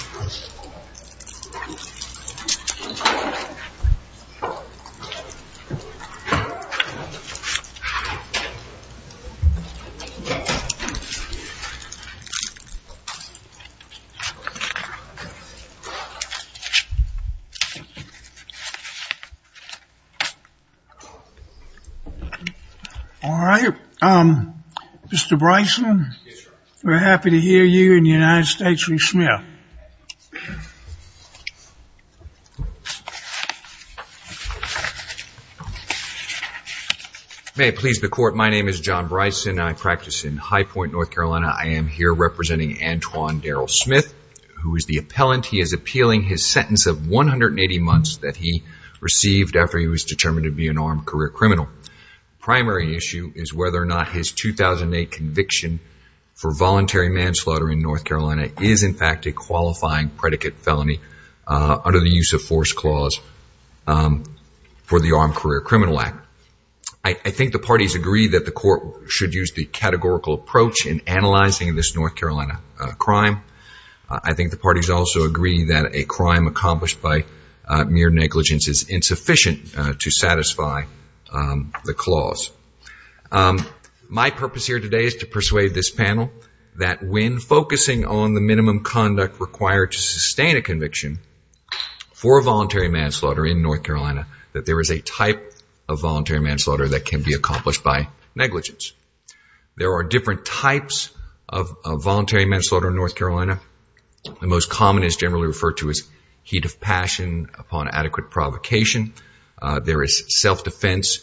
All right, um, Mr. Bryson, we're happy to hear you in the United States v. Smith. May it please the Court, my name is John Bryson. I practice in High Point, North Carolina. I am here representing Antoine Darrell Smith, who is the appellant. He is appealing his sentence of 180 months that he received after he was determined to be an armed career criminal. Primary issue is whether or not his 2008 conviction for voluntary manslaughter in North Carolina is in fact a qualifying predicate felony under the use of force clause for the Armed Career Criminal Act. I think the parties agree that the Court should use the categorical approach in analyzing this North Carolina crime. I think the parties also agree that a crime accomplished by mere negligence is insufficient to satisfy the clause. My purpose here today is to persuade this panel that when focusing on the minimum conduct required to sustain a conviction for voluntary manslaughter in North Carolina, that there is a type of voluntary manslaughter that can be accomplished by negligence. There are different types of voluntary manslaughter in North Carolina. The most common is generally referred to as heat of passion upon adequate provocation. There is self-defense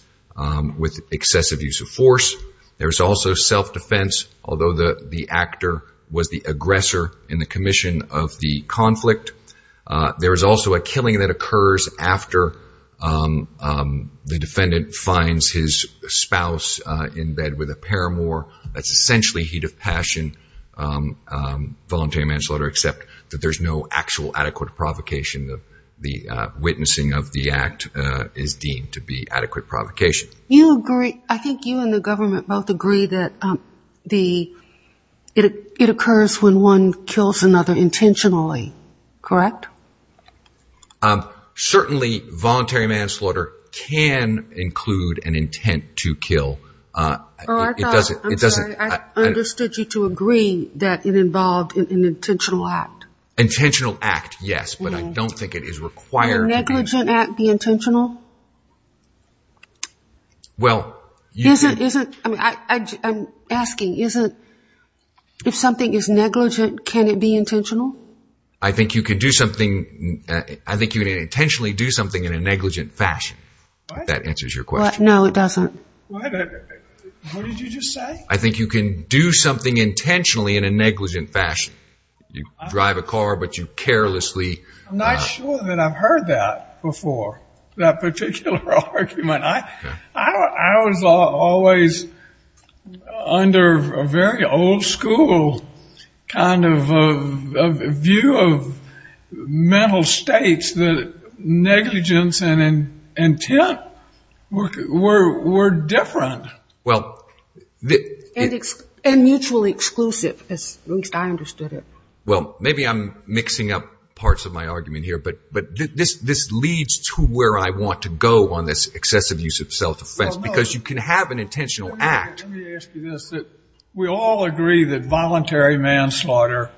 with excessive use of force. There is also self-defense, although the actor was the aggressor in the commission of the conflict. There is also a killing that occurs after the defendant finds his spouse in bed with a paramour. That's essentially heat of passion voluntary manslaughter, except that there's no actual adequate provocation. The witnessing of the act is deemed to be adequate provocation. You agree. I think you and the government both agree that it occurs when one kills another intentionally, correct? Certainly voluntary manslaughter can include an intent to kill. I'm sorry. I understood you to agree that it involved an intentional act. Intentional act, yes, but I don't think it is required. Can a negligent act be intentional? I'm asking, if something is negligent, can it be intentional? I think you can intentionally do something in a negligent fashion, if that answers your question. No, it doesn't. What did you just say? I think you can do something intentionally in a negligent fashion. You drive a car, but you carelessly... I'm not sure that I've heard that before, that particular argument. I was always under a very old school kind of view of mental states that negligence and intent were different. And mutually exclusive, at least I understood it. Well, maybe I'm mixing up parts of my argument here, but this leads to where I want to go on this excessive use of self-offense, because you can have an intentional act... Let me ask you this. We all agree that voluntary manslaughter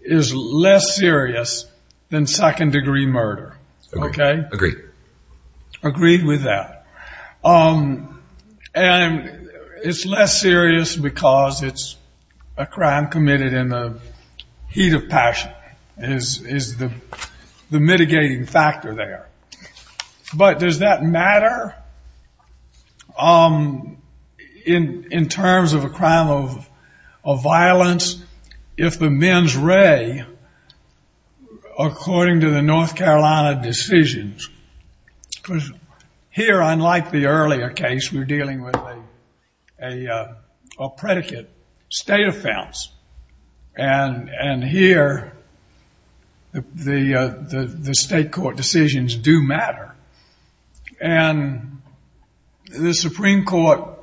is less serious than second degree murder, okay? Agreed. Agreed with that. And it's less serious because it's a crime committed in the heat of passion, is the mitigating factor there. But does that matter in terms of a crime of violence? If the men's ray, according to the North Carolina decisions... Here, unlike the earlier case, we're dealing with a predicate state offense. And here, the state court decisions do matter. And the Supreme Court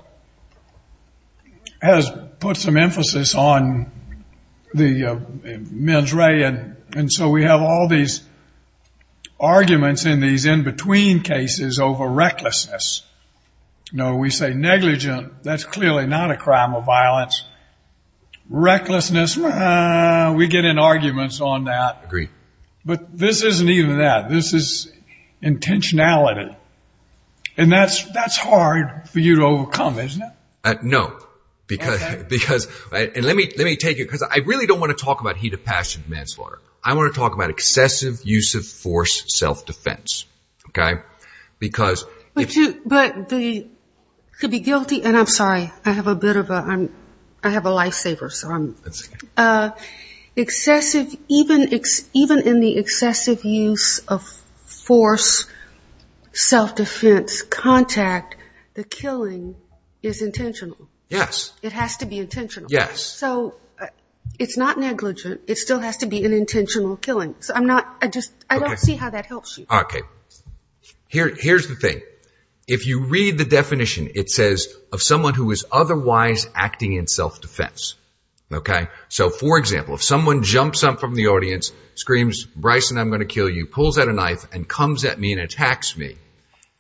has put some emphasis on the men's ray, and so we have all these arguments in these in-between cases over recklessness. You know, we say negligent, that's clearly not a crime of violence. Recklessness, we get in arguments on that. But this isn't even that. This is intentionality. And that's hard for you to overcome, isn't it? No, because... And let me take it, because I really don't want to talk about heat of passion manslaughter. I want to talk about excessive use of force self-defense, okay? Because... But to be guilty, and I'm sorry, I have a bit of a... I have a lifesaver, so I'm... Excessive, even in the excessive use of force self-defense, contact, the killing, is intentional. Yes. It has to be intentional. Yes. So, it's not negligent, it still has to be an intentional killing. So I'm not, I just, I don't see how that helps you. Okay. Here's the thing. If you read the definition, it says, of someone who is otherwise acting in self-defense. Okay? So, for example, if someone jumps up from the audience, screams, Bryson, I'm going to kill you, pulls out a knife, and comes at me and attacks me,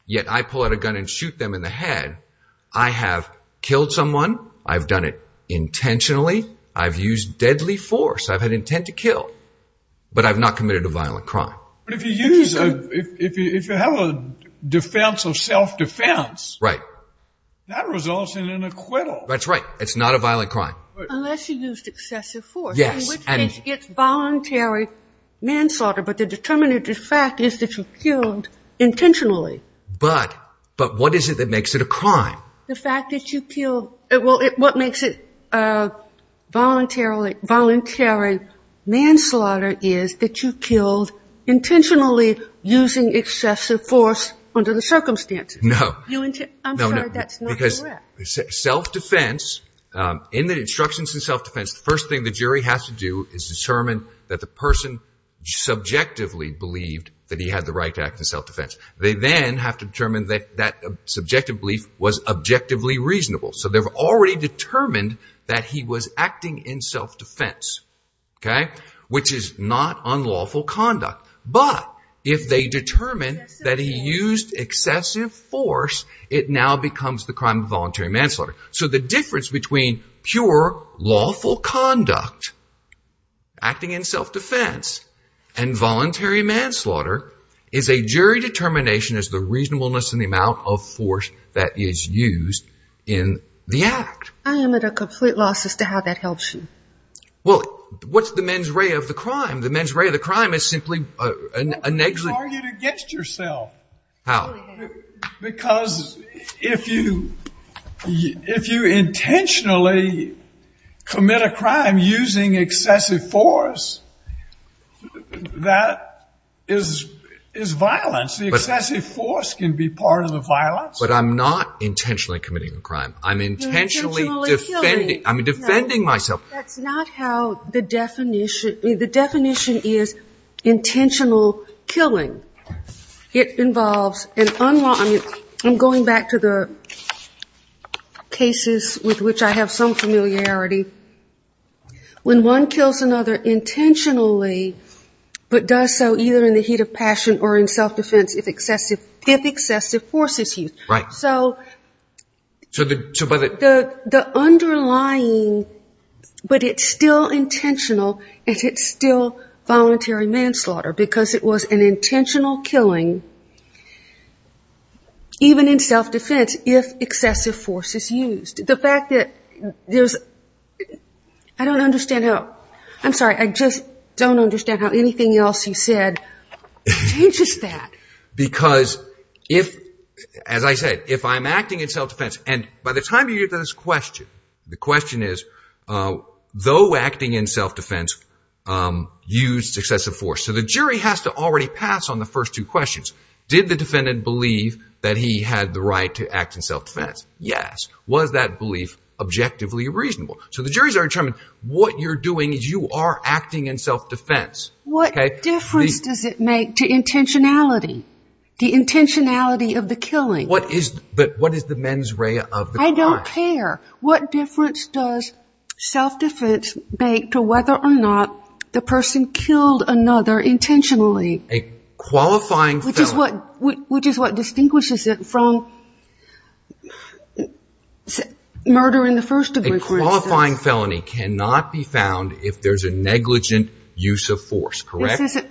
yet I pull out a gun and shoot them in the head, I have killed someone, I've done it intentionally, I've used deadly force, I've had intent to kill, but I've not committed a violent crime. But if you use a... If you have a defense of self-defense... Right. That results in an acquittal. That's right. It's not a violent crime. Unless you used excessive force. Yes. Which makes it voluntary manslaughter, but the determinative fact is that you killed intentionally. But what is it that makes it a crime? The fact that you killed... Well, what makes it voluntary manslaughter is that you killed intentionally, using excessive force under the circumstances. No. I'm sorry, that's not correct. Self-defense... In the instructions in self-defense, the first thing the jury has to do is determine that the person subjectively believed that he had the right to act in self-defense. They then have to determine that that subjective belief was objectively reasonable. So they've already determined that he was acting in self-defense. Okay? Which is not unlawful conduct. But if they determine that he used excessive force, it now becomes the crime of voluntary manslaughter. So the difference between pure lawful conduct, acting in self-defense, and voluntary manslaughter is a jury determination as to the reasonableness and the amount of force that is used in the act. I am at a complete loss as to how that helps you. Well, what's the mens rea of the crime? The mens rea of the crime is simply... Well, people argue against yourself. How? Because if you... If you intentionally commit a crime using excessive force, that is violence. The excessive force can be part of the violence. But I'm not intentionally committing a crime. I'm intentionally defending... You're intentionally killing. I'm defending myself. That's not how the definition... The definition is intentional killing. It involves an unlawful... I'm going back to the cases with which I have some familiarity. When one kills another intentionally, but does so either in the heat of passion or in self-defense if excessive force is used. Right. So... So by the... The underlying... But it's still intentional, and it's still voluntary manslaughter because it was an intentional killing even in self-defense if excessive force is used. The fact that there's... I don't understand how... I'm sorry. I just don't understand how anything else you said changes that. Because if... As I said, if I'm acting in self-defense... And by the time you get to this question, the question is, though acting in self-defense used excessive force. So the jury has to already pass on the first two questions. Did the defendant believe that he had the right to act in self-defense? Yes. Was that belief objectively reasonable? So the juries are determined, what you're doing is you are acting in self-defense. What difference does it make to intentionality? The intentionality of the killing. What is... But what is the mens rea of the crime? I don't care. What difference does self-defense make to whether or not the person killed another intentionally? A qualifying felony... Which is what distinguishes it from murder in the first degree, for instance. A qualifying felony cannot be found if there's a negligent use of force, correct? This isn't...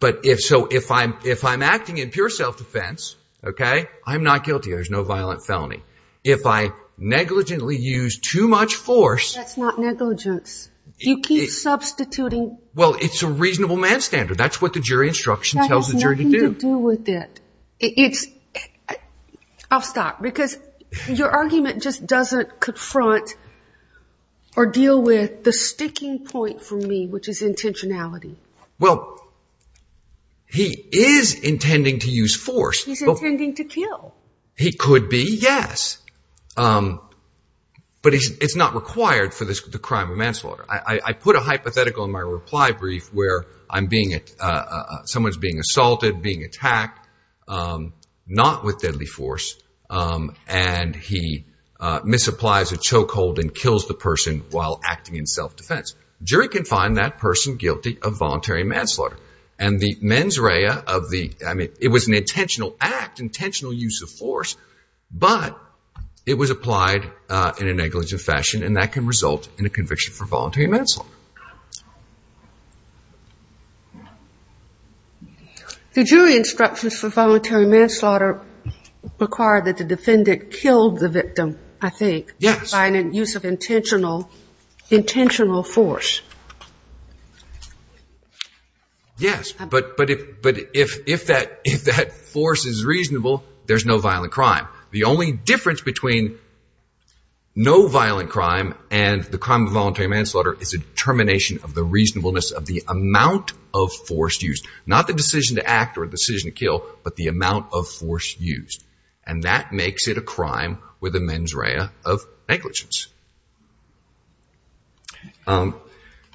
But if... So if I'm acting in pure self-defense, okay, I'm not guilty. There's no violent felony. If I negligently use too much force... That's not negligence. You keep substituting... Well, it's a reasonable man standard. That's what the jury instruction tells the jury to do. That has nothing to do with it. It's... I'll stop. Because your argument just doesn't confront or deal with the sticking point for me, which is intentionality. Well, he is intending to use force. He's intending to kill. He could be, yes. But it's not required for the crime of manslaughter. I put a hypothetical in my reply brief where I'm being... Someone's being assaulted, being attacked, not with deadly force, and he misapplies a chokehold and kills the person while acting in self-defense. Jury can find that person guilty of voluntary manslaughter. And the mens rea of the... I mean, it was an intentional act, intentional use of force. But it was applied in a negligent fashion, and that can result in a conviction for voluntary manslaughter. The jury instructions for voluntary manslaughter require that the defendant killed the victim, I think... Yes. ...by an use of intentional force. Yes, but if that force is reasonable, there's no violent crime. The only difference between no violent crime and the crime of voluntary manslaughter is a determination of the reasonableness of the amount of force used. Not the decision to act or the decision to kill, but the amount of force used. And that makes it a crime with a mens rea of negligence.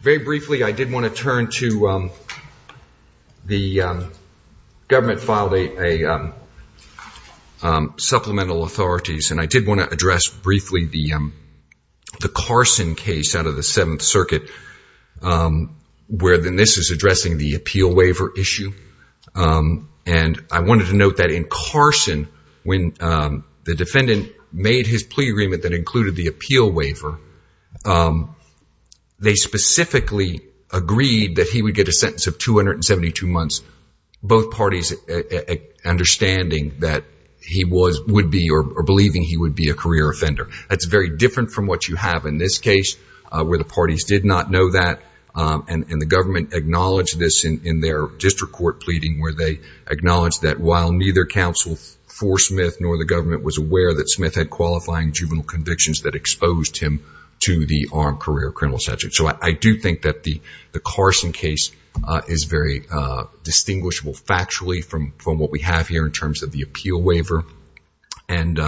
Very briefly, I did want to turn to... The government filed supplemental authorities, and I did want to address briefly the Carson case out of the Seventh Circuit, where this is addressing the appeal waiver issue. And I wanted to note that in Carson, when the defendant made his plea agreement that included the appeal waiver, they specifically agreed that he would get a sentence of 272 months, both parties understanding that he would be or believing he would be a career offender. That's very different from what you have in this case, where the parties did not know that. And the government acknowledged this in their district court pleading, where they acknowledged that while neither counsel for Smith nor the government was aware that Smith had qualifying juvenile convictions that exposed him to the armed career criminal statute. So I do think that the Carson case is very distinguishable factually from what we have here in terms of the appeal waiver. And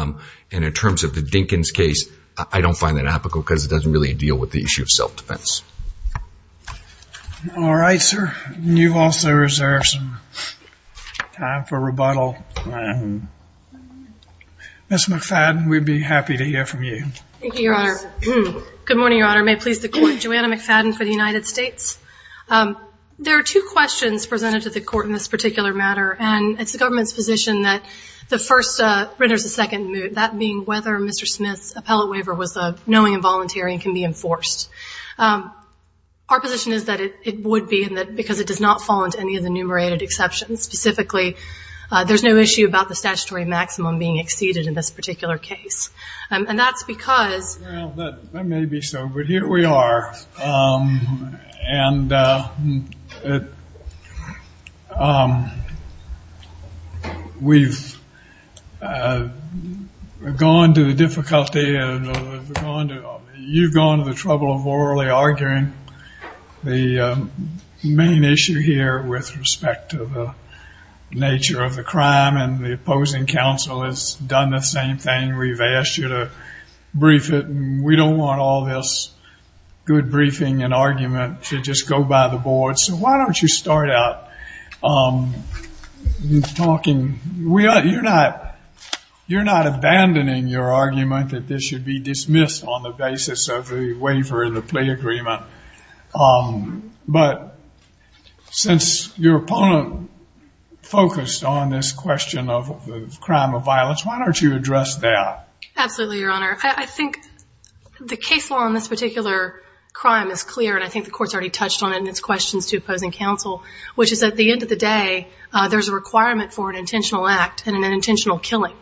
in terms of the Dinkins case, I don't find that applicable because it doesn't really deal with the issue of self-defense. All right, sir. You've also reserved some time for rebuttal. Ms. McFadden, we'd be happy to hear from you. Thank you, Your Honor. Good morning, Your Honor. May it please the Court. Joanna McFadden for the United States. There are two questions presented to the Court in this particular matter, and it's the government's position that the first renders a second move, that being whether Mr. Smith's appellate waiver was a knowing involuntary and can be enforced. Our position is that it would be because it does not fall into any of the enumerated exceptions. Specifically, there's no issue about the statutory maximum being exceeded in this particular case. And that's because... Well, that may be so, but here we are. We've gone to the difficulty... You've gone to the trouble of orally arguing the main issue here with respect to the nature of the crime, and the opposing counsel has done the same thing. We've asked you to brief it, and we don't want all this good briefing and argument to just go by the board, so why don't you start out talking... You're not abandoning your argument that this should be dismissed on the basis of the waiver and the plea agreement, but since your opponent focused on this question of crime or violence, why don't you address that? Absolutely, Your Honor. I think the case law on this particular crime is clear, and I think the Court's already touched on it in its questions to opposing counsel, which is at the end of the day, there's a requirement for an intentional act and an intentional killing.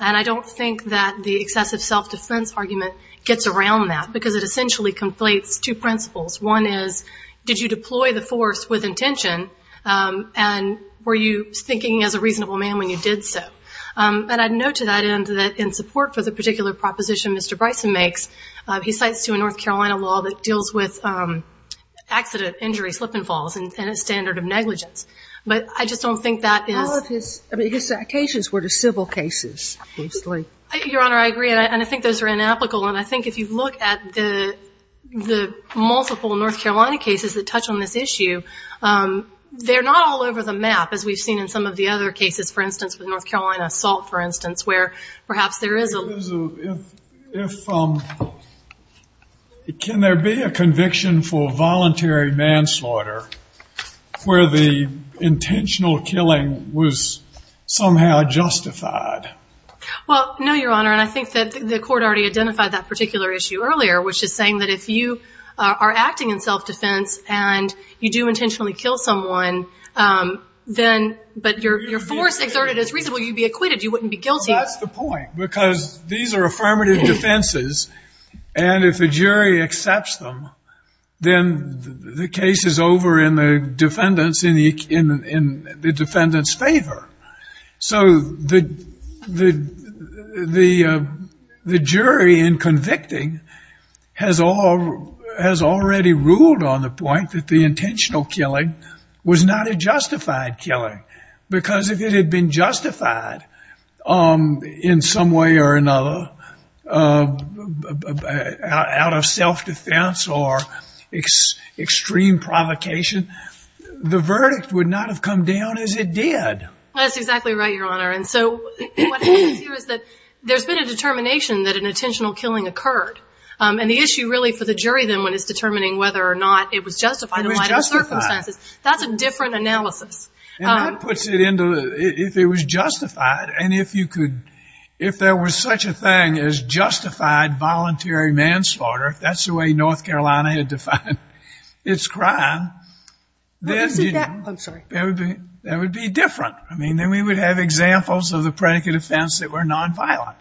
And I don't think that the excessive self-defense argument gets around that, because it essentially conflates two principles. One is, did you deploy the force with intention, and were you thinking as a reasonable man when you did so? And I'd note to that end that in support for the particular proposition Mr. Bryson makes, he cites to a North Carolina law that deals with accident, injury, slip and falls, and a standard of negligence. But I just don't think that is... All of his accusations were to civil cases, basically. Your Honor, I agree, and I think those are inapplicable, and I think if you look at the multiple North Carolina cases that touch on this issue, they're not all over the map, as we've seen in some of the other cases, for instance, with North Carolina assault, for instance, where perhaps there is a... If, um... Can there be a conviction for voluntary manslaughter where the intentional killing was somehow justified? Well, no, Your Honor, and I think that the court already identified that particular issue earlier, which is saying that if you are acting in self-defense and you do intentionally kill someone, then... But your force exerted is reasonable, you'd be acquitted, you wouldn't be guilty. Well, that's the point, because these are affirmative defenses, and if a jury accepts them, then the case is over in the defendant's favor. So the jury in convicting has already ruled on the point that the intentional killing was not a justified killing, because if it had been justified in some way or another, out of self-defense or extreme provocation, the verdict would not have come down as it did. That's exactly right, Your Honor, and so what happens here is that there's been a determination that an intentional killing occurred, and the issue really for the jury, then, is determining whether or not it was justified in light of the circumstances. It was justified. That's a different analysis. And that puts it into... If it was justified, and if you could... If there was such a thing as justified voluntary manslaughter, if that's the way North Carolina had defined its crime, then... I'm sorry. That would be different. I mean, then we would have examples of the predicate offense that were nonviolent.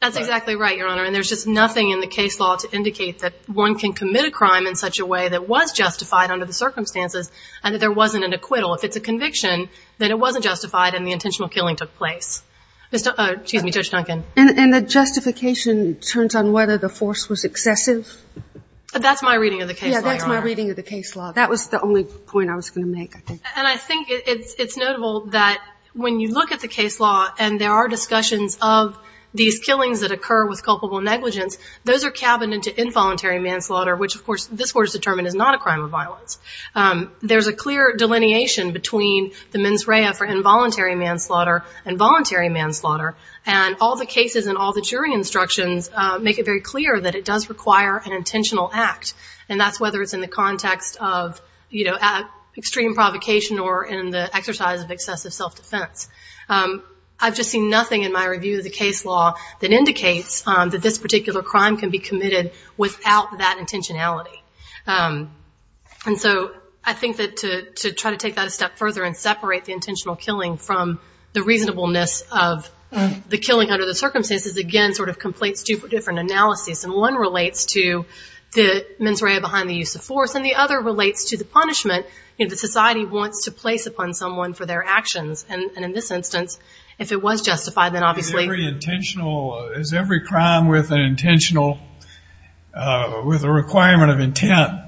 That's exactly right, Your Honor, and there's just nothing in the case law to indicate that one can commit a crime in such a way that was justified under the circumstances and that there wasn't an acquittal. If it's a conviction, then it wasn't justified and the intentional killing took place. Excuse me, Judge Duncan. And the justification turns on whether the force was excessive? That's my reading of the case law, Your Honor. Yeah, that's my reading of the case law. That was the only point I was going to make, I think. And I think it's notable that when you look at the case law and there are discussions of these killings that occur with culpable negligence, those are cabined into involuntary manslaughter, which, of course, this Court has determined is not a crime of violence. There's a clear delineation between the mens rea for involuntary manslaughter and voluntary manslaughter, and all the cases and all the jury instructions make it very clear that it does require an intentional act, and that's whether it's in the context of extreme provocation or in the exercise of excessive self-defense. I've just seen nothing in my review of the case law that indicates that this particular crime can be committed without that intentionality. And so I think that to try to take that a step further and separate the intentional killing from the reasonableness of the killing under the circumstances again sort of completes two different analyses. And one relates to the mens rea behind the use of force, and the other relates to the punishment that society wants to place upon someone for their actions. And in this instance, if it was justified, then obviously... Well, is every crime with an intentional... with a requirement of intent?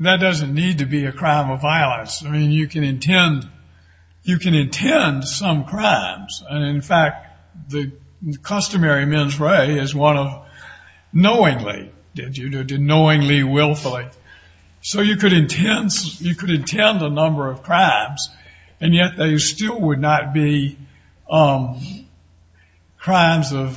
That doesn't need to be a crime of violence. I mean, you can intend... you can intend some crimes, and, in fact, the customary mens rea is one of knowingly... knowingly, willfully. So you could intend... you could intend a number of crimes, and yet they still would not be crimes of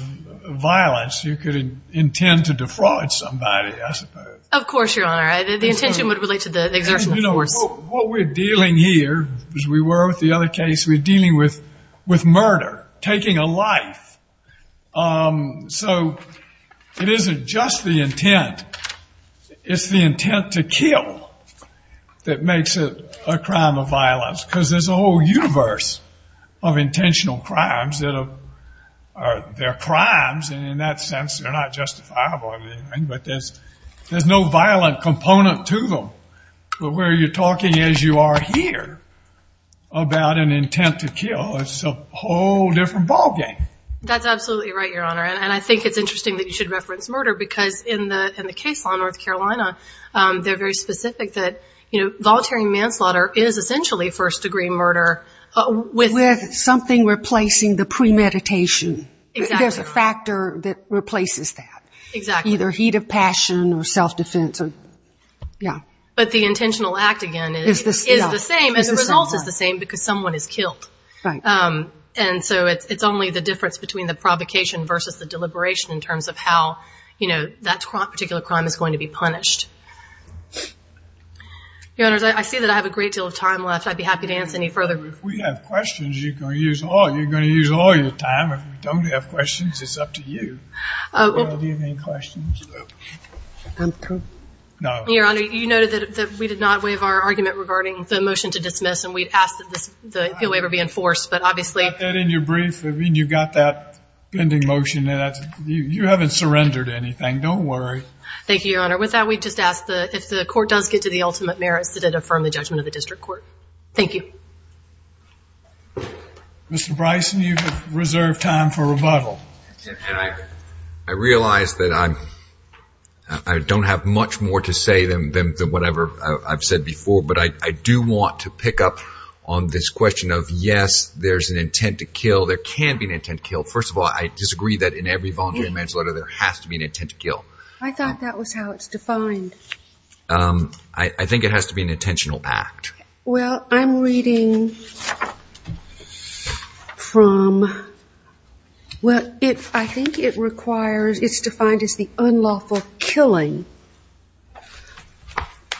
violence. You could intend to defraud somebody, I suppose. Of course, Your Honor. The intention would relate to the exertion of force. What we're dealing here, as we were with the other case, we're dealing with murder, taking a life. So it isn't just the intent. It's the intent to kill that makes it a crime of violence, because there's a whole universe of intentional crimes that are...they're crimes, and in that sense, they're not justifiable in any way, but there's no violent component to them. But where you're talking, as you are here, about an intent to kill, it's a whole different ballgame. That's absolutely right, Your Honor, and I think it's interesting that you should reference murder, because in the case on North Carolina, they're very specific that, you know, voluntary manslaughter is essentially first-degree murder with... With something replacing the premeditation. Exactly. There's a factor that replaces that. Exactly. Either heat of passion or self-defense or...yeah. But the intentional act, again, is the same, and the result is the same, because someone is killed. Right. And so it's only the difference between the provocation versus the deliberation in terms of how, you know, that particular crime is going to be punished. Your Honors, I see that I have a great deal of time left. I'd be happy to answer any further... If we have questions, you're going to use all your time. If we don't have questions, it's up to you. Do you have any questions? No. Your Honor, you noted that we did not waive our argument regarding the motion to dismiss, and we'd asked that the appeal waiver be enforced, but obviously... You got that in your brief. I mean, you got that vending motion. You haven't surrendered anything. Don't worry. Thank you, Your Honor. With that, we just ask that if the court does get to the ultimate merits, that it affirm the judgment of the district court. Thank you. Mr. Bryson, you have reserved time for rebuttal. I realize that I don't have much more to say than whatever I've said before, but I do want to pick up on this question of, yes, there's an intent to kill. There can be an intent to kill. First of all, I disagree that in every voluntary manslaughter, there has to be an intent to kill. I thought that was how it's defined. I think it has to be an intentional act. Well, I'm reading from, well, I think it's defined as the unlawful killing,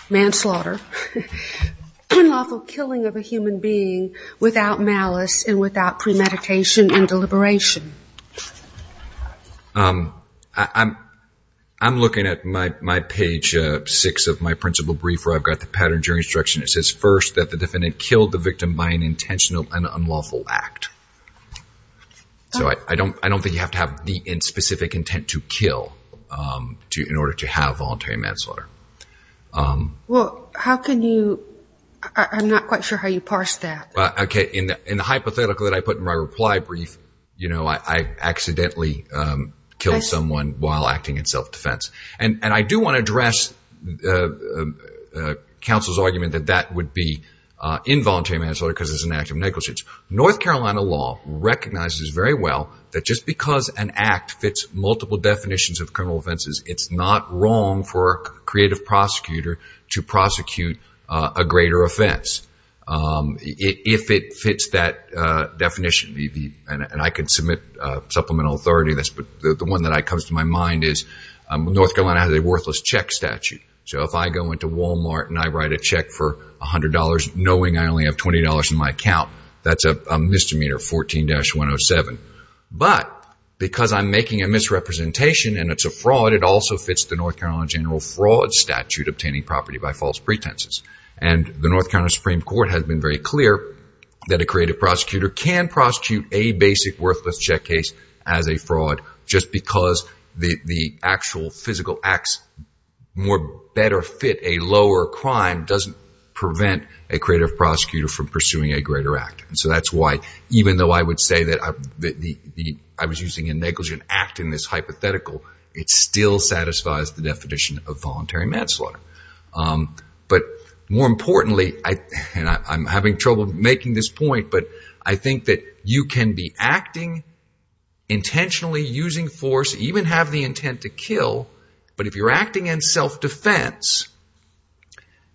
manslaughter, unlawful killing of a human being without malice and without premeditation and deliberation. I'm looking at my page six of my principal brief where I've got the pattern of jury instruction. It says, first, that the defendant killed the victim by an intentional and unlawful act. So I don't think you have to have the specific intent to kill in order to have voluntary manslaughter. Well, how can you – I'm not quite sure how you parse that. Okay. In the hypothetical that I put in my reply brief, I accidentally killed someone while acting in self-defense. And I do want to address counsel's argument that that would be involuntary manslaughter because it's an act of negligence. North Carolina law recognizes very well that just because an act fits multiple definitions of criminal offenses, it's not wrong for a creative prosecutor to prosecute a greater offense. If it fits that definition, and I could submit supplemental authority to this, but the one that comes to my mind is North Carolina has a worthless check statute. So if I go into Walmart and I write a check for $100 knowing I only have $20 in my account, that's a misdemeanor, 14-107. But because I'm making a misrepresentation and it's a fraud, it also fits the North Carolina general fraud statute, obtaining property by false pretenses. And the North Carolina Supreme Court has been very clear that a creative prosecutor can prosecute a basic worthless check case as a fraud just because the actual physical acts better fit a lower crime doesn't prevent a creative prosecutor from pursuing a greater act. And so that's why even though I would say that I was using a negligent act in this hypothetical, it still satisfies the definition of voluntary manslaughter. But more importantly, and I'm having trouble making this point, but I think that you can be acting intentionally, using force, even have the intent to kill. But if you're acting in self-defense,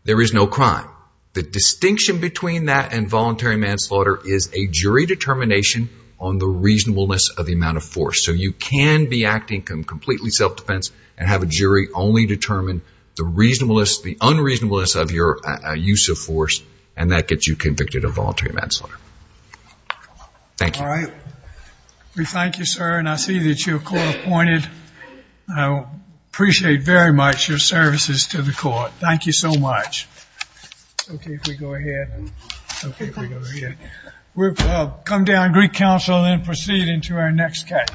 there is no crime. The distinction between that and voluntary manslaughter is a jury determination on the reasonableness of the amount of force. So you can be acting completely self-defense and have a jury only determine the reasonableness, the unreasonableness of your use of force, and that gets you convicted of voluntary manslaughter. Thank you. All right. We thank you, sir. And I see that you're court appointed. I appreciate very much your services to the court. Thank you so much. Okay, if we go ahead. Okay, if we go ahead. We'll come down and greet counsel and then proceed into our next catch.